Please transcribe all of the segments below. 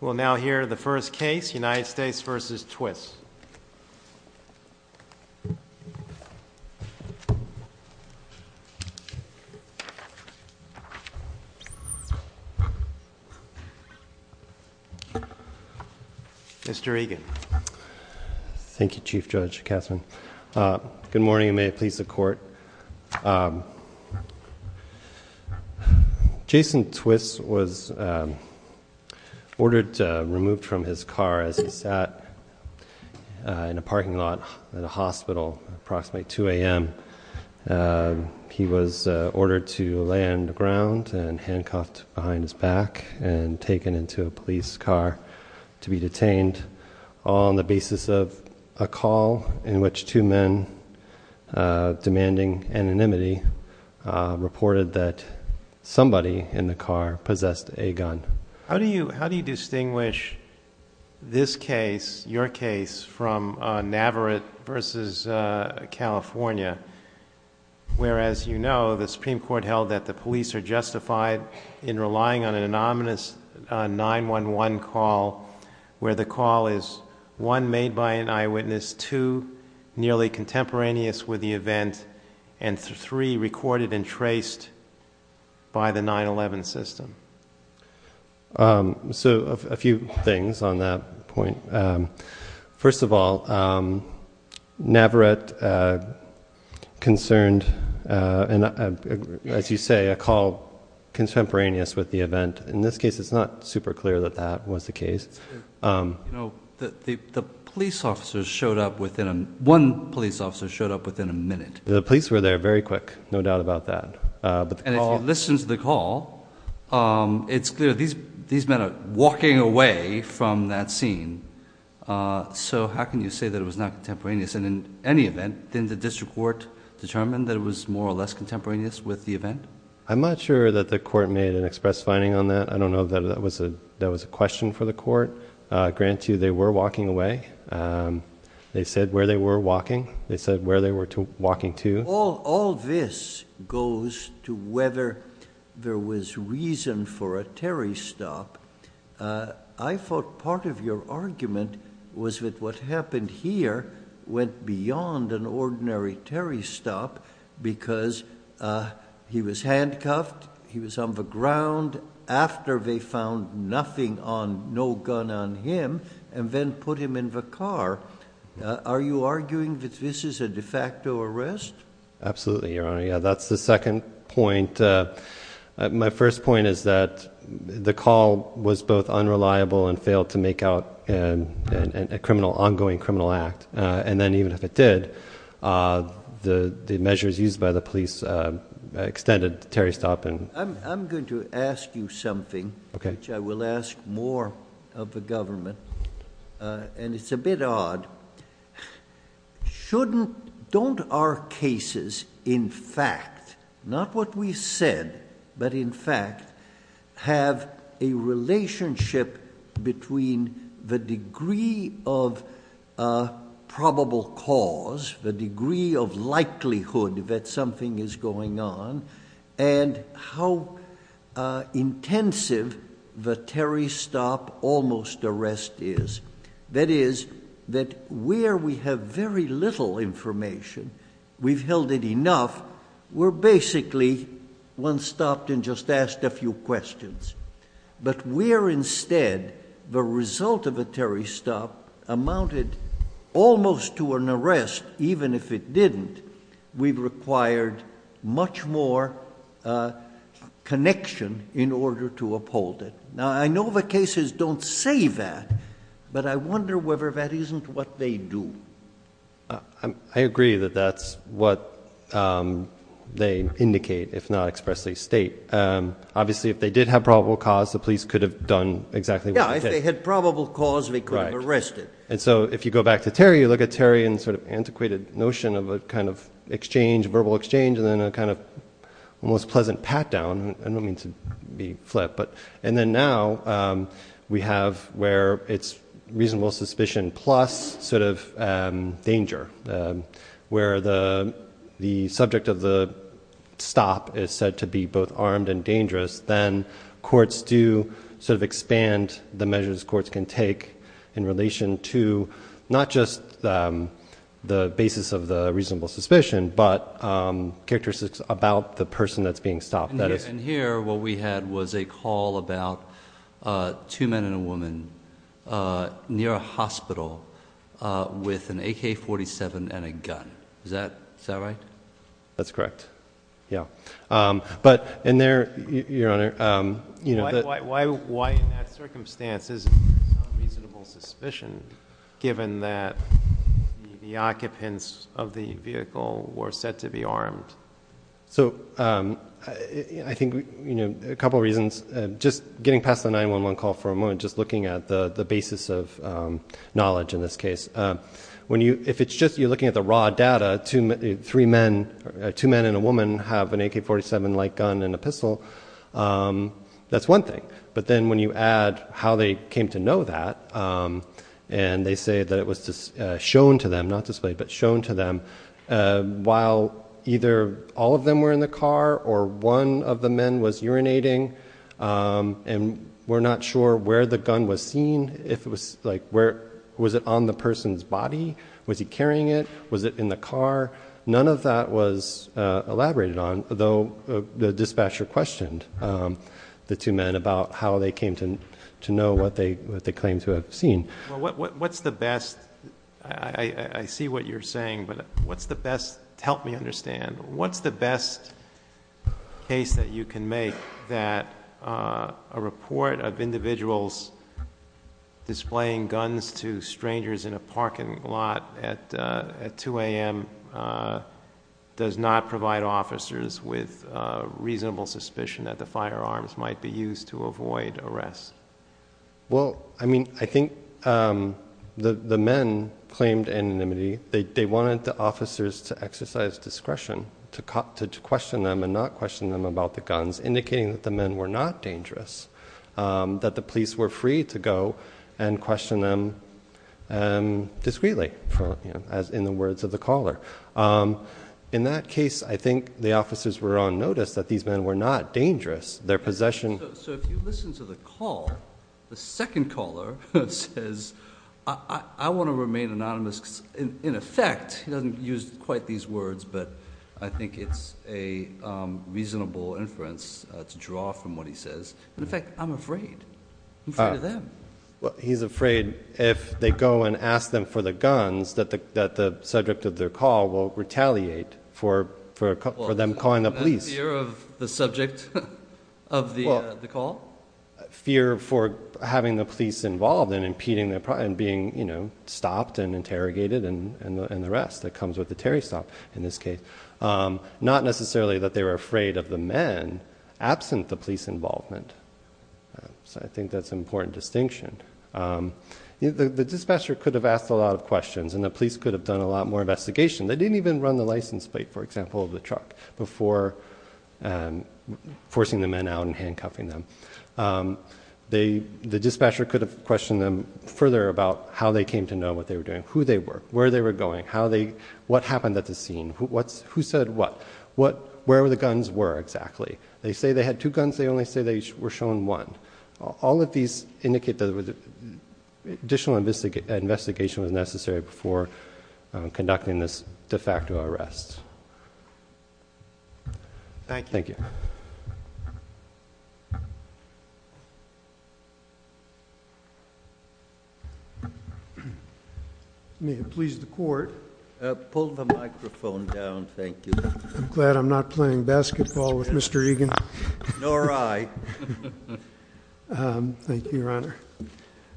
We will now hear the first case, United States v. Twiss. Mr. Egan. Thank you, Chief Judge Kassman. Good morning, and may it please the Court. Jason Twiss was ordered removed from his car as he sat in a parking lot at a hospital at approximately 2 a.m. He was ordered to lay on the ground and handcuffed behind his back and taken into a police car to be detained on the basis of a call in which two men, demanding anonymity, reported that somebody in the car possessed a gun. How do you distinguish this case, your case, from Navarrete v. California, where, as you know, the Supreme Court held that the police are justified in relying on an anonymous 911 call where the call is, one, made by an eyewitness, two, nearly contemporaneous with the event, and three, recorded and traced by the 9-11 system? So, a few things on that point. First of all, Navarrete concerned, as you say, a call contemporaneous with the event. In this case, it's not super clear that that was the case. You know, the police officers showed up within, one police officer showed up within a minute. The police were there very quick, no doubt about that. And if you listen to the call, it's clear these men are walking away from that scene. So how can you say that it was not contemporaneous? And in any event, didn't the district court determine that it was more or less contemporaneous with the event? I'm not sure that the court made an express finding on that. I don't know if that was a question for the court. Granted, they were walking away. They said where they were walking. They said where they were walking to. All this goes to whether there was reason for a Terry stop. I thought part of your argument was that what happened here went beyond an ordinary Terry stop because he was handcuffed, he was on the ground after they found nothing on, no gun on him, and then put him in the car. Are you arguing that this is a de facto arrest? Absolutely, Your Honor. That's the second point. My first point is that the call was both unreliable and failed to make out an ongoing criminal act. And then even if it did, the measures used by the police extended the Terry stop. I'm going to ask you something, which I will ask more of the government. And it's a bit odd. Don't our cases, in fact, not what we said, but in fact, have a relationship between the degree of probable cause, the degree of likelihood that something is going on, and how intensive the Terry stop almost arrest is. That is, that where we have very little information, we've held it enough, we're basically one stopped and just asked a few questions. But where instead the result of a Terry stop amounted almost to an arrest, even if it didn't, we've required much more connection in order to uphold it. Now, I know the cases don't say that, but I wonder whether that isn't what they do. I agree that that's what they indicate, if not expressly state. Obviously, if they did have probable cause, the police could have done exactly what they did. Yeah, if they had probable cause, they could have arrested. Right. And so if you go back to Terry, you look at Terry and sort of antiquated notion of a kind of exchange, verbal exchange, and then a kind of almost pleasant pat down. I don't mean to be flip. But and then now we have where it's reasonable suspicion plus sort of danger, where the subject of the stop is said to be both armed and dangerous. Then courts do sort of expand the measures courts can take in relation to not just the basis of the reasonable suspicion, but characteristics about the person that's being stopped. And here what we had was a call about two men and a woman near a hospital with an AK-47 and a gun. Is that right? That's correct. Yeah. But in there, Your Honor. Why in that circumstance is it reasonable suspicion given that the occupants of the vehicle were said to be armed? So I think a couple of reasons. Just getting past the 911 call for a moment, just looking at the basis of knowledge in this case. If it's just you're looking at the raw data, two men and a woman have an AK-47-like gun and a pistol, that's one thing. But then when you add how they came to know that and they say that it was shown to them, not displayed, but shown to them while either all of them were in the car or one of the men was urinating and we're not sure where the gun was seen. Was it on the person's body? Was he carrying it? Was it in the car? None of that was elaborated on, though the dispatcher questioned the two men about how they came to know what they claimed to have seen. I see what you're saying, but help me understand. What's the best case that you can make that a report of individuals displaying guns to strangers in a parking lot at 2 a.m. does not provide officers with reasonable suspicion that the firearms might be used to avoid arrest? I think the men claimed anonymity. They wanted the officers to exercise discretion to question them and not question them about the guns, indicating that the men were not dangerous, that the police were free to go and question them discreetly, as in the words of the caller. In that case, I think the officers were on notice that these men were not dangerous. So if you listen to the call, the second caller says, I want to remain anonymous. In effect, he doesn't use quite these words, but I think it's a reasonable inference to draw from what he says. In fact, I'm afraid. I'm afraid of them. He's afraid if they go and ask them for the guns that the subject of their call will retaliate for them calling the police. Fear of the subject of the call? Fear for having the police involved and being stopped and interrogated and the rest that comes with the Terry stop in this case. Not necessarily that they were afraid of the men absent the police involvement. So I think that's an important distinction. The dispatcher could have asked a lot of questions and the police could have done a lot more investigation. They didn't even run the license plate, for example, of the truck before forcing the men out and handcuffing them. The dispatcher could have questioned them further about how they came to know what they were doing, who they were, where they were going, what happened at the scene, who said what, where the guns were exactly. They say they had two guns. They only say they were shown one. All of these indicate that additional investigation was necessary before conducting this de facto arrest. Thank you. Thank you. May it please the court. Pull the microphone down, thank you. I'm glad I'm not playing basketball with Mr. Egan. Nor I. Thank you, Your Honor.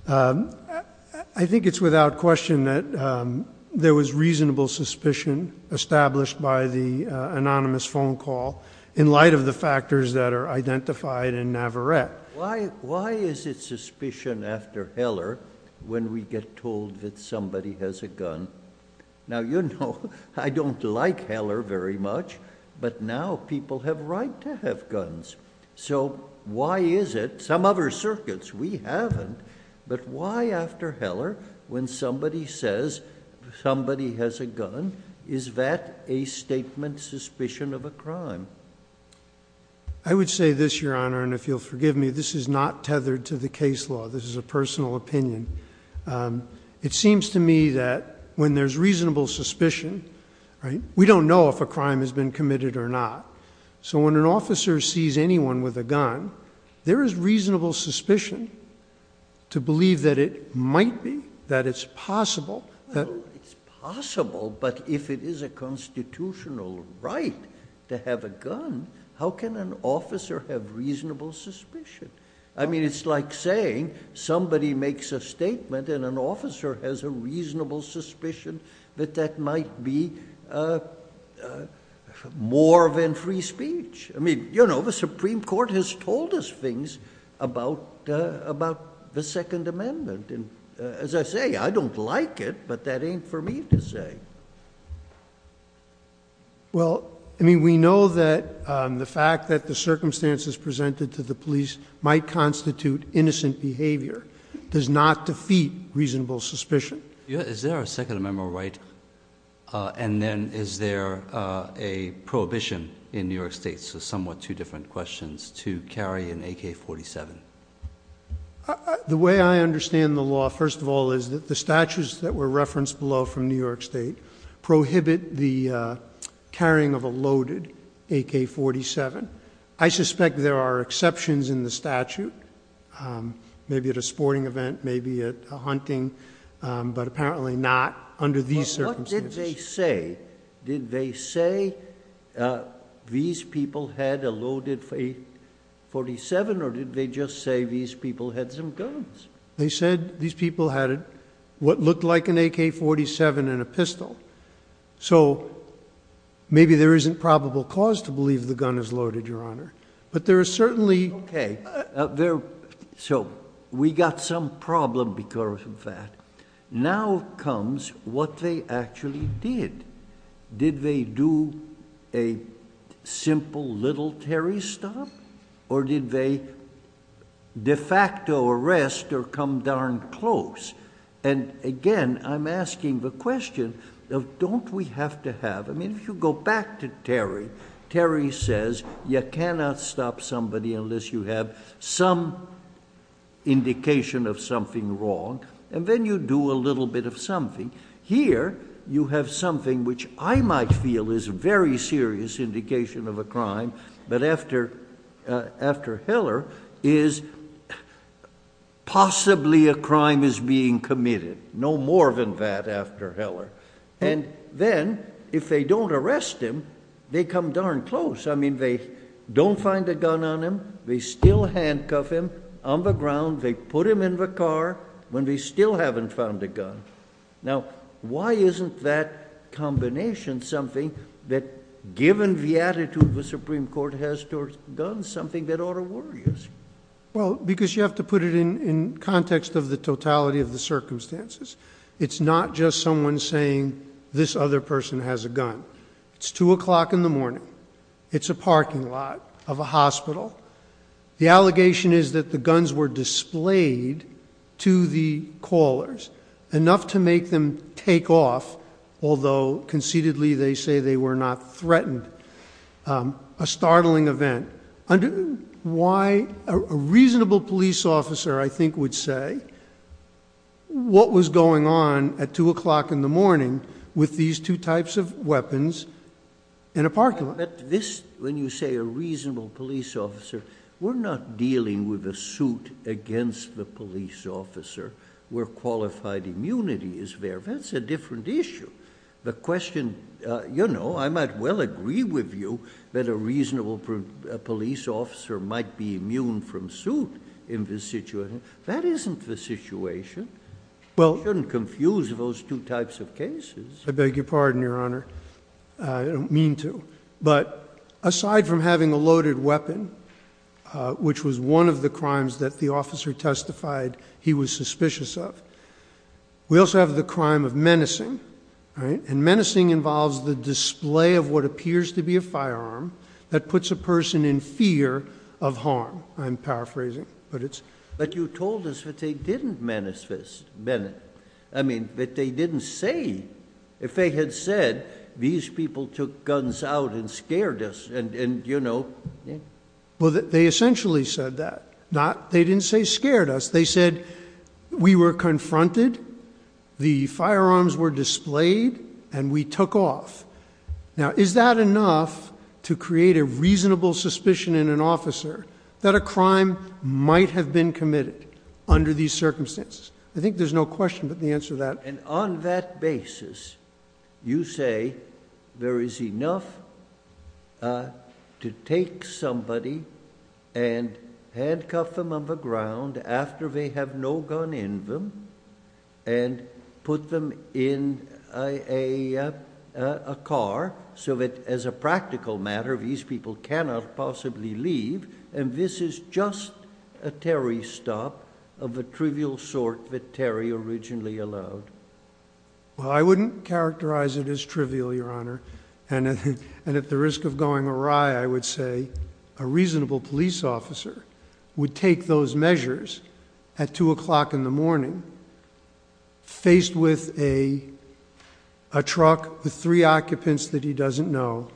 I think it's without question that there was reasonable suspicion established by the anonymous phone call in light of the factors that are identified in Navarrette. Why is it suspicion after Heller when we get told that somebody has a gun? Now, you know, I don't like Heller very much, but now people have right to have guns. So why is it, some other circuits, we haven't, but why after Heller when somebody says somebody has a gun, is that a statement suspicion of a crime? I would say this, Your Honor, and if you'll forgive me, this is not tethered to the case law. This is a personal opinion. It seems to me that when there's reasonable suspicion, we don't know if a crime has been committed or not. So when an officer sees anyone with a gun, there is reasonable suspicion to believe that it might be, that it's possible. It's possible, but if it is a constitutional right to have a gun, how can an officer have reasonable suspicion? I mean, it's like saying somebody makes a statement and an officer has a reasonable suspicion that that might be more than free speech. I mean, you know, the Supreme Court has told us things about the Second Amendment. And as I say, I don't like it, but that ain't for me to say. Well, I mean, we know that the fact that the circumstances presented to the police might constitute innocent behavior does not defeat reasonable suspicion. Is there a Second Amendment right? And then is there a prohibition in New York State, so somewhat two different questions, to carry an AK-47? The way I understand the law, first of all, is that the statutes that were referenced below from New York State prohibit the carrying of a loaded AK-47. I suspect there are exceptions in the statute, maybe at a sporting event, maybe at a hunting, but apparently not under these circumstances. What did they say? Did they say these people had a loaded AK-47, or did they just say these people had some guns? They said these people had what looked like an AK-47 and a pistol. So maybe there isn't probable cause to believe the gun is loaded, Your Honor. But there is certainly... So we got some problem because of that. Now comes what they actually did. Did they do a simple little Terry stop, or did they de facto arrest or come darn close? And again, I'm asking the question, don't we have to have... I mean, if you go back to Terry, Terry says you cannot stop somebody unless you have some indication of something wrong. And then you do a little bit of something. Here you have something which I might feel is a very serious indication of a crime, but after Heller is possibly a crime is being committed. No more than that after Heller. And then if they don't arrest him, they come darn close. I mean, they don't find a gun on him. They still handcuff him on the ground. They put him in the car when they still haven't found a gun. Now, why isn't that combination something that given the attitude the Supreme Court has towards guns, something that ought to worry us? Well, because you have to put it in context of the totality of the circumstances. It's not just someone saying this other person has a gun. It's 2 o'clock in the morning. It's a parking lot of a hospital. The allegation is that the guns were displayed to the callers. Enough to make them take off, although conceitedly they say they were not threatened. A startling event. Why a reasonable police officer, I think, would say what was going on at 2 o'clock in the morning with these two types of weapons in a parking lot? When you say a reasonable police officer, we're not dealing with a suit against the police officer where qualified immunity is there. That's a different issue. The question, you know, I might well agree with you that a reasonable police officer might be immune from suit in this situation. That isn't the situation. You shouldn't confuse those two types of cases. I beg your pardon, Your Honor. I don't mean to. But aside from having a loaded weapon, which was one of the crimes that the officer testified he was suspicious of, we also have the crime of menacing. And menacing involves the display of what appears to be a firearm that puts a person in fear of harm. I'm paraphrasing. But you told us that they didn't manifest menace. I mean, that they didn't say. If they had said these people took guns out and scared us and, you know. Well, they essentially said that. They didn't say scared us. They said we were confronted, the firearms were displayed, and we took off. Now, is that enough to create a reasonable suspicion in an officer that a crime might have been committed under these circumstances? I think there's no question but the answer to that. And on that basis, you say there is enough to take somebody and handcuff them on the ground after they have no gun in them and put them in a car so that, as a practical matter, these people cannot possibly leave. And this is just a Terry stop of the trivial sort that Terry originally allowed. Well, I wouldn't characterize it as trivial, Your Honor. And at the risk of going awry, I would say a reasonable police officer would take those measures at 2 o'clock in the morning, faced with a truck with three occupants that he doesn't know,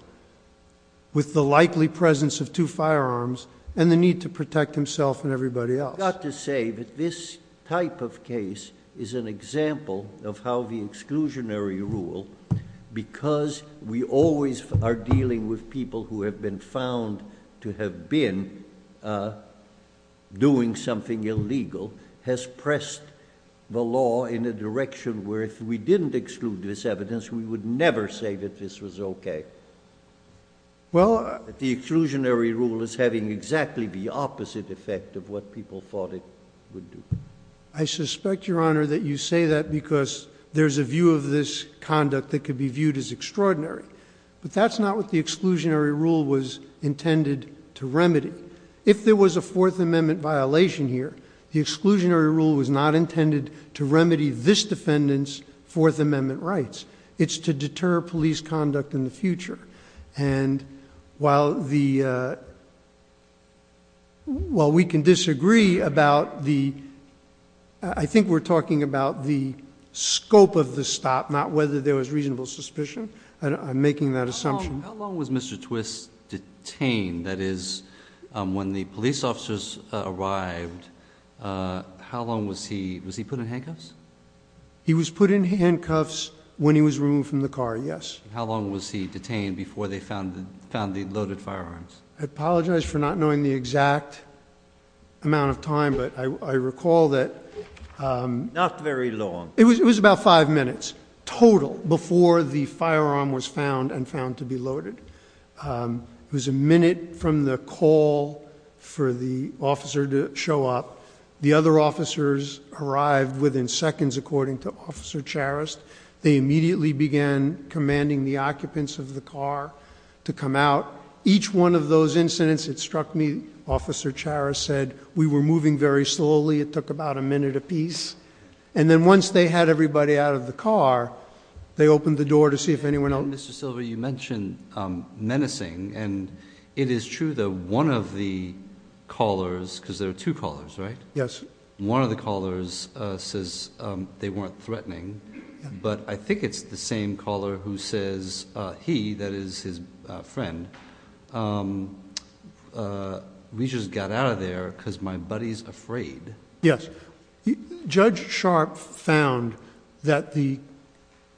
with the likely presence of two firearms, and the need to protect himself and everybody else. I've got to say that this type of case is an example of how the exclusionary rule, because we always are dealing with people who have been found to have been doing something illegal, has pressed the law in a direction where if we didn't exclude this evidence, we would never say that this was okay. The exclusionary rule is having exactly the opposite effect of what people thought it would do. I suspect, Your Honor, that you say that because there's a view of this conduct that could be viewed as extraordinary. But that's not what the exclusionary rule was intended to remedy. If there was a Fourth Amendment violation here, the exclusionary rule was not intended to remedy this defendant's Fourth Amendment rights. It's to deter police conduct in the future. And while we can disagree about the—I think we're talking about the scope of the stop, not whether there was reasonable suspicion. I'm making that assumption. How long was Mr. Twist detained? That is, when the police officers arrived, how long was he—was he put in handcuffs? He was put in handcuffs when he was removed from the car, yes. How long was he detained before they found the loaded firearms? I apologize for not knowing the exact amount of time, but I recall that— Not very long. It was about five minutes total before the firearm was found and found to be loaded. It was a minute from the call for the officer to show up. The other officers arrived within seconds, according to Officer Charest. They immediately began commanding the occupants of the car to come out. Each one of those incidents, it struck me, Officer Charest said, we were moving very slowly. It took about a minute apiece. And then once they had everybody out of the car, they opened the door to see if anyone else— Mr. Silver, you mentioned menacing, and it is true that one of the callers—because there are two callers, right? Yes. One of the callers says they weren't threatening, but I think it's the same caller who says he, that is, his friend, we just got out of there because my buddy's afraid. Yes. Judge Sharp found that the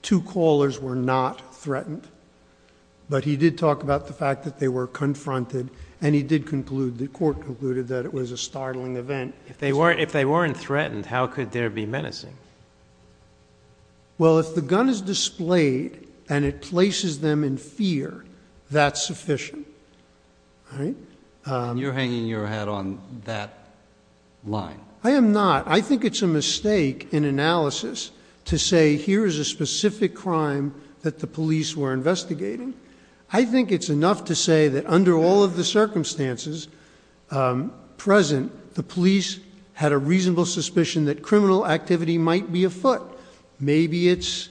two callers were not threatened, but he did talk about the fact that they were confronted, and he did conclude, the court concluded, that it was a startling event. If they weren't threatened, how could there be menacing? Well, if the gun is displayed and it places them in fear, that's sufficient. You're hanging your head on that line. I am not. I think it's a mistake in analysis to say here is a specific crime that the police were investigating. I think it's enough to say that under all of the circumstances present, the police had a reasonable suspicion that criminal activity might be afoot. Maybe it's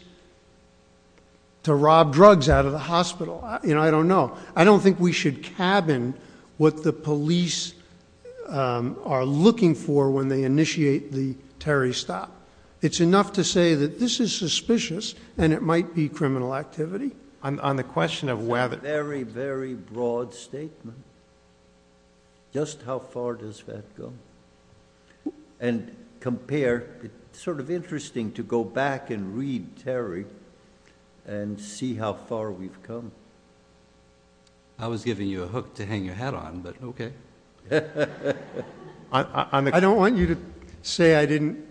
to rob drugs out of the hospital. I don't know. I don't think we should cabin what the police are looking for when they initiate the Terry stop. It's enough to say that this is suspicious, and it might be criminal activity. On the question of whether— That's a very, very broad statement. Just how far does that go? And compare. It's sort of interesting to go back and read Terry and see how far we've come. I was giving you a hook to hang your hat on, but okay. I don't want you to say I didn't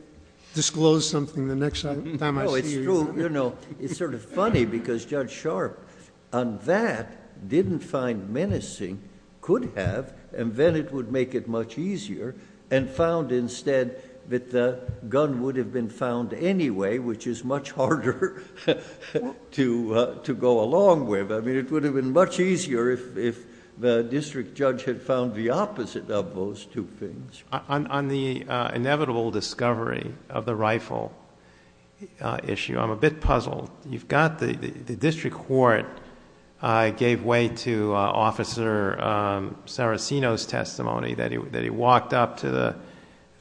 disclose something the next time I see you. No, it's true. It's sort of funny because Judge Sharp on that didn't find menacing, could have, and then it would make it much easier. And found instead that the gun would have been found anyway, which is much harder to go along with. It would have been much easier if the district judge had found the opposite of those two things. On the inevitable discovery of the rifle issue, I'm a bit puzzled. You've got the district court gave way to Officer Saraceno's testimony that he walked up to the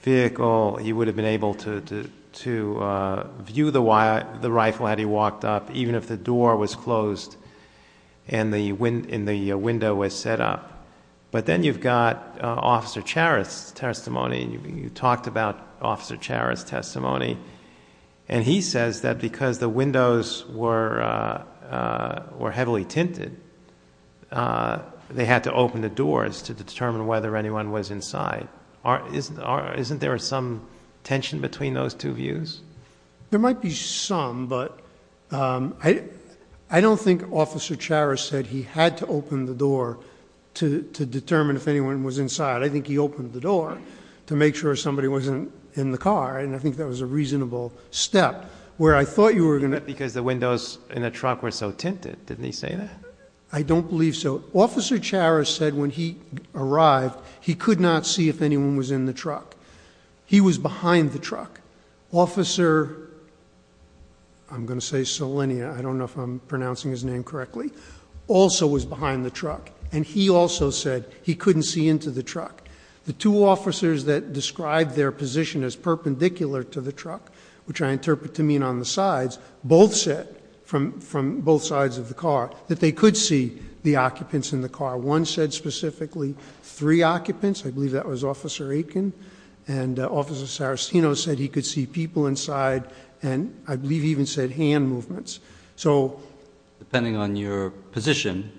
vehicle. He would have been able to view the rifle had he walked up, even if the door was closed and the window was set up. But then you've got Officer Charest's testimony, and you talked about Officer Charest's testimony. And he says that because the windows were heavily tinted, they had to open the doors to determine whether anyone was inside. Isn't there some tension between those two views? There might be some, but I don't think Officer Charest said he had to open the door to determine if anyone was inside. I think he opened the door to make sure somebody wasn't in the car, and I think that was a reasonable step. Where I thought you were going to- Because the windows in the truck were so tinted, didn't he say that? I don't believe so. Officer Charest said when he arrived, he could not see if anyone was in the truck. He was behind the truck. Officer, I'm going to say Selenia, I don't know if I'm pronouncing his name correctly, also was behind the truck. And he also said he couldn't see into the truck. The two officers that described their position as perpendicular to the truck, which I interpret to mean on the sides, both said from both sides of the car that they could see the occupants in the car. One said specifically three occupants. I believe that was Officer Aitken. And Officer Sarastino said he could see people inside, and I believe he even said hand movements. Depending on your position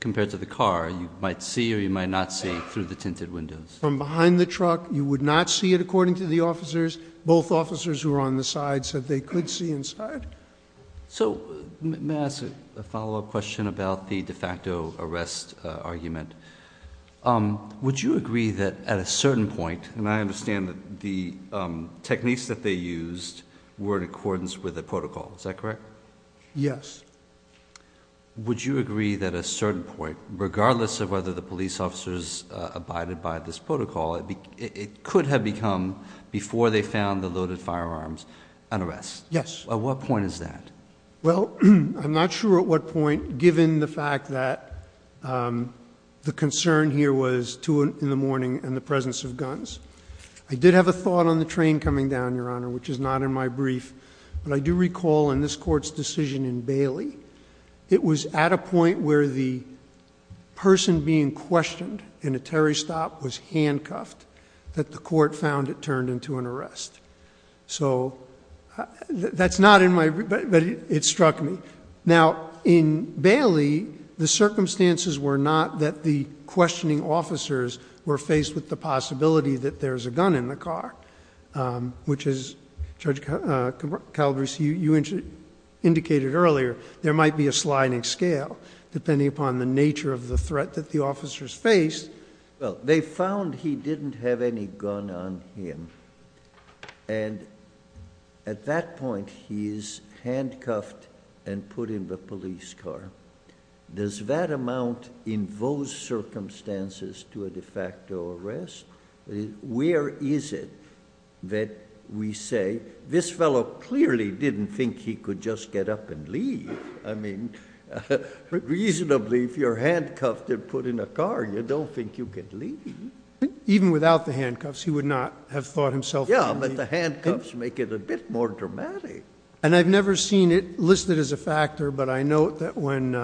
compared to the car, you might see or you might not see through the tinted windows. From behind the truck, you would not see it according to the officers. Both officers who were on the sides said they could see inside. So may I ask a follow-up question about the de facto arrest argument? Would you agree that at a certain point, and I understand that the techniques that they used were in accordance with the protocol, is that correct? Yes. Would you agree that at a certain point, regardless of whether the police officers abided by this protocol, it could have become, before they found the loaded firearms, an arrest? Yes. At what point is that? Well, I'm not sure at what point, given the fact that the concern here was 2 in the morning and the presence of guns. I did have a thought on the train coming down, Your Honor, which is not in my brief. But I do recall in this court's decision in Bailey, it was at a point where the person being questioned in a Terry stop was handcuffed, that the court found it turned into an arrest. So that's not in my brief, but it struck me. Now, in Bailey, the circumstances were not that the questioning officers were faced with the possibility that there's a gun in the car, which is, Judge Caldres, you indicated earlier, there might be a sliding scale, depending upon the nature of the threat that the officers faced. Well, they found he didn't have any gun on him. And at that point, he is handcuffed and put in the police car. Does that amount in those circumstances to a de facto arrest? Where is it that we say, this fellow clearly didn't think he could just get up and leave? I mean, reasonably, if you're handcuffed and put in a car, you don't think you could leave. Even without the handcuffs, he would not have thought himself free. Yeah, but the handcuffs make it a bit more dramatic. And I've never seen it listed as a factor, but I note that when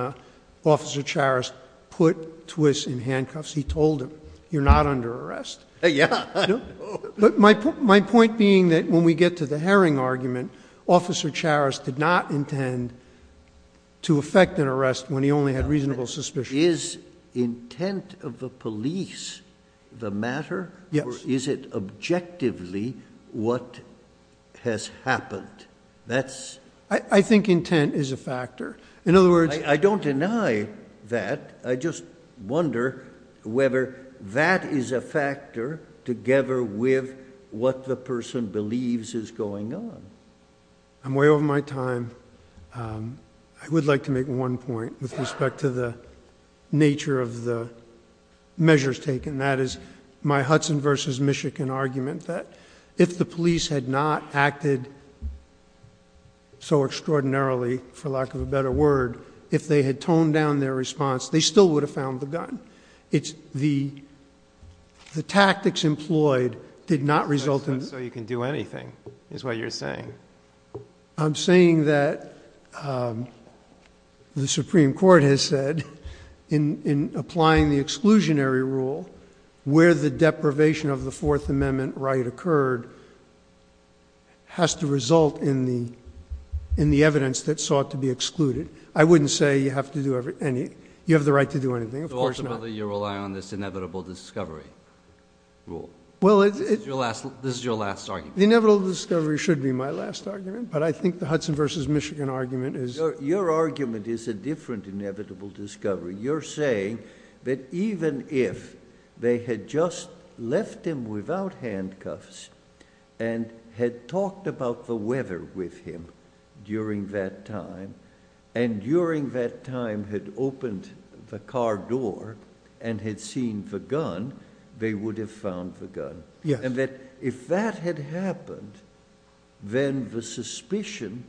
Officer Charest put Twiss in handcuffs, he told him, you're not under arrest. Yeah. But my point being that when we get to the Herring argument, Officer Charest did not intend to effect an arrest when he only had reasonable suspicion. Is intent of the police the matter? Yes. Or is it objectively what has happened? I think intent is a factor. I don't deny that. I just wonder whether that is a factor together with what the person believes is going on. I'm way over my time. I would like to make one point with respect to the nature of the measures taken. And that is my Hudson versus Michigan argument that if the police had not acted so extraordinarily, for lack of a better word, if they had toned down their response, they still would have found the gun. The tactics employed did not result in this. So you can do anything is what you're saying. I'm saying that the Supreme Court has said in applying the exclusionary rule, where the deprivation of the Fourth Amendment right occurred has to result in the evidence that sought to be excluded. I wouldn't say you have the right to do anything. So ultimately you're relying on this inevitable discovery rule. This is your last argument. The inevitable discovery should be my last argument, but I think the Hudson versus Michigan argument is— Your argument is a different inevitable discovery. You're saying that even if they had just left him without handcuffs and had talked about the weather with him during that time, and during that time had opened the car door and had seen the gun, they would have found the gun. Yes. And that if that had happened, then the suspicion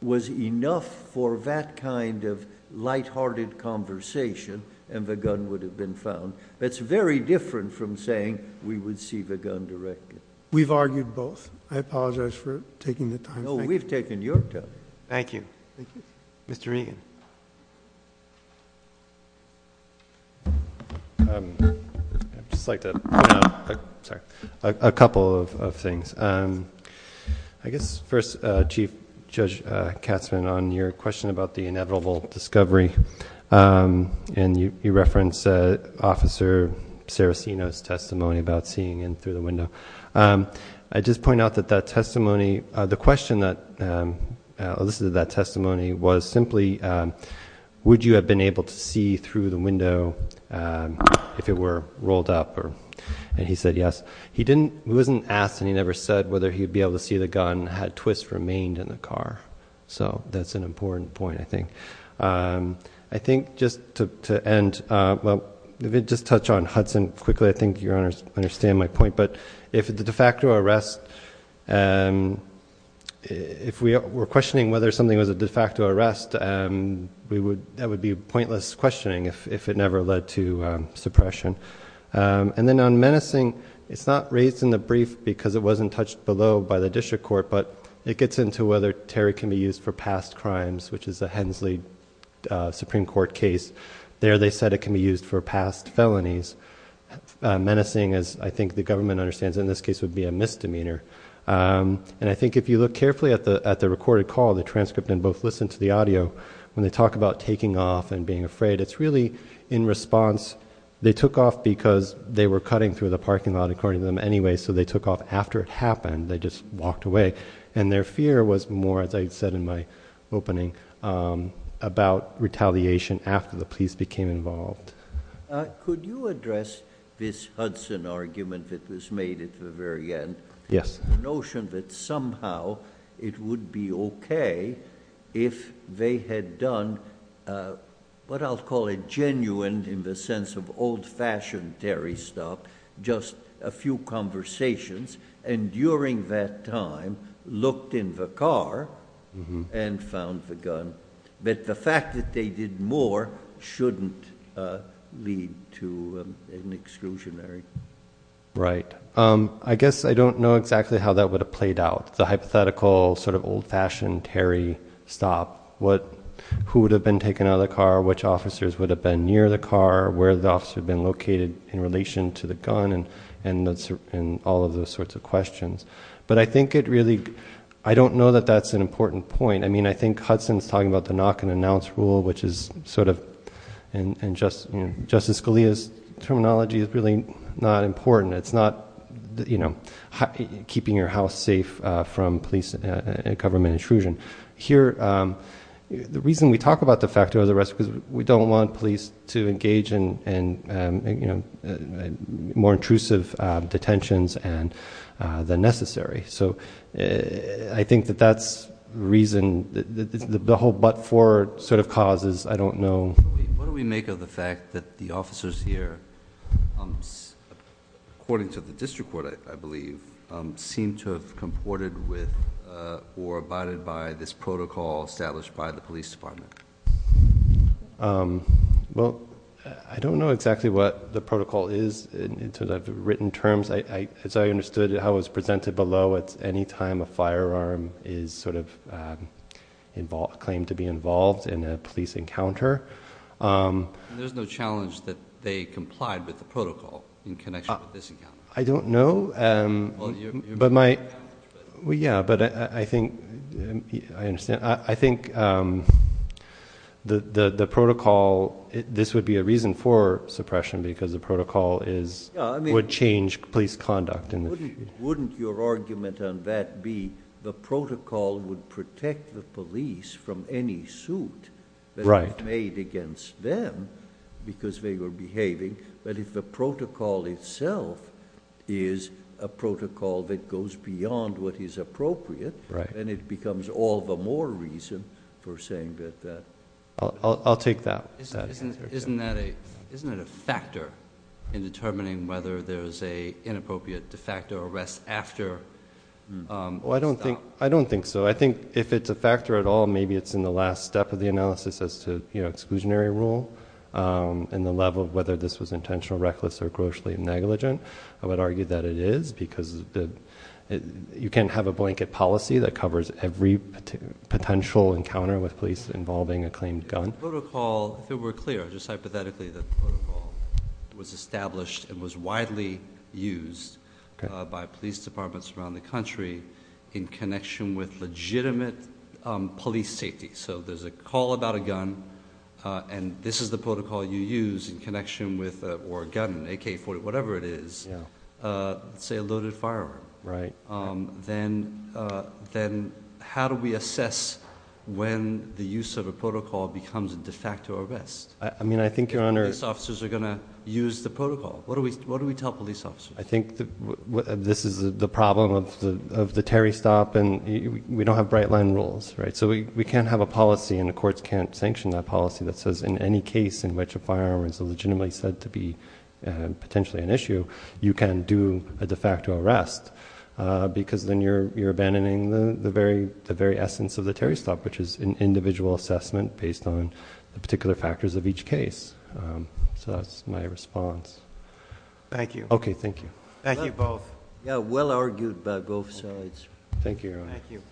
was enough for that kind of lighthearted conversation and the gun would have been found. That's very different from saying we would see the gun directly. We've argued both. I apologize for taking the time. No, we've taken your time. Thank you. Thank you. Mr. Regan. I'd just like to point out a couple of things. I guess first, Chief Judge Katzmann, on your question about the inevitable discovery, and you referenced Officer Saraceno's testimony about seeing in through the window. I'd just point out that that testimony—the question that elicited that testimony was simply, would you have been able to see through the window if it were rolled up? And he said yes. He wasn't asked and he never said whether he would be able to see the gun had twists remained in the car. So that's an important point, I think. I think just to end—well, let me just touch on Hudson quickly. I think Your Honor understands my point, but if the de facto arrest— if we were questioning whether something was a de facto arrest, that would be pointless questioning if it never led to suppression. And then on menacing, it's not raised in the brief because it wasn't touched below by the district court, but it gets into whether Terry can be used for past crimes, which is a Hensley Supreme Court case. There they said it can be used for past felonies. Menacing, as I think the government understands in this case, would be a misdemeanor. And I think if you look carefully at the recorded call, the transcript, and both listen to the audio, when they talk about taking off and being afraid, it's really in response. They took off because they were cutting through the parking lot, according to them, anyway, so they took off after it happened. They just walked away. And their fear was more, as I said in my opening, about retaliation after the police became involved. Could you address this Hudson argument that was made at the very end? Yes. The notion that somehow it would be okay if they had done what I'll call a genuine, in the sense of old-fashioned Terry stuff, just a few conversations, and during that time looked in the car and found the gun. But the fact that they did more shouldn't lead to an exclusionary. Right. I guess I don't know exactly how that would have played out, the hypothetical sort of old-fashioned Terry stop. Who would have been taken out of the car? Which officers would have been near the car? Where would the officer have been located in relation to the gun and all of those sorts of questions? But I think it really, I don't know that that's an important point. I mean, I think Hudson's talking about the knock and announce rule, which is sort of, and Justice Scalia's terminology is really not important. It's not keeping your house safe from police and government intrusion. Here, the reason we talk about the fact of the arrest is because we don't want police to engage in more intrusive detentions than necessary. So I think that that's the reason, the whole but-for sort of causes, I don't know. What do we make of the fact that the officers here, according to the district court, I believe, seem to have comported with or abided by this protocol established by the police department? Well, I don't know exactly what the protocol is in sort of written terms. As I understood it, how it was presented below, it's any time a firearm is sort of claimed to be involved in a police encounter. There's no challenge that they complied with the protocol in connection with this encounter? I don't know, but my – well, yeah, but I think – I understand. I think the protocol – this would be a reason for suppression because the protocol is – would change police conduct. Wouldn't your argument on that be the protocol would protect the police from any suit that was made against them because they were behaving, but if the protocol itself is a protocol that goes beyond what is appropriate, then it becomes all the more reason for saying that that. I'll take that. Isn't that a – isn't it a factor in determining whether there's an inappropriate de facto arrest after – Well, I don't think so. I think if it's a factor at all, maybe it's in the last step of the analysis as to exclusionary rule and the level of whether this was intentional, reckless, or grossly negligent. I would argue that it is because you can't have a blanket policy that covers every potential encounter with police involving a claimed gun. The protocol, if it were clear, just hypothetically, the protocol was established and was widely used by police departments around the country in connection with legitimate police safety. So there's a call about a gun, and this is the protocol you use in connection with – or a gun, an AK-40, whatever it is, say a loaded firearm. Right. Then how do we assess when the use of a protocol becomes a de facto arrest? I mean, I think your Honor – If police officers are going to use the protocol, what do we tell police officers? I think this is the problem of the Terry Stop, and we don't have bright line rules. So we can't have a policy, and the courts can't sanction that policy that says in any case in which a firearm is legitimately said to be potentially an issue, you can do a de facto arrest because then you're abandoning the very essence of the Terry Stop, which is an individual assessment based on the particular factors of each case. So that's my response. Thank you. Okay, thank you. Thank you both. Yeah, well argued by both sides. Thank you, Your Honor. Thank you.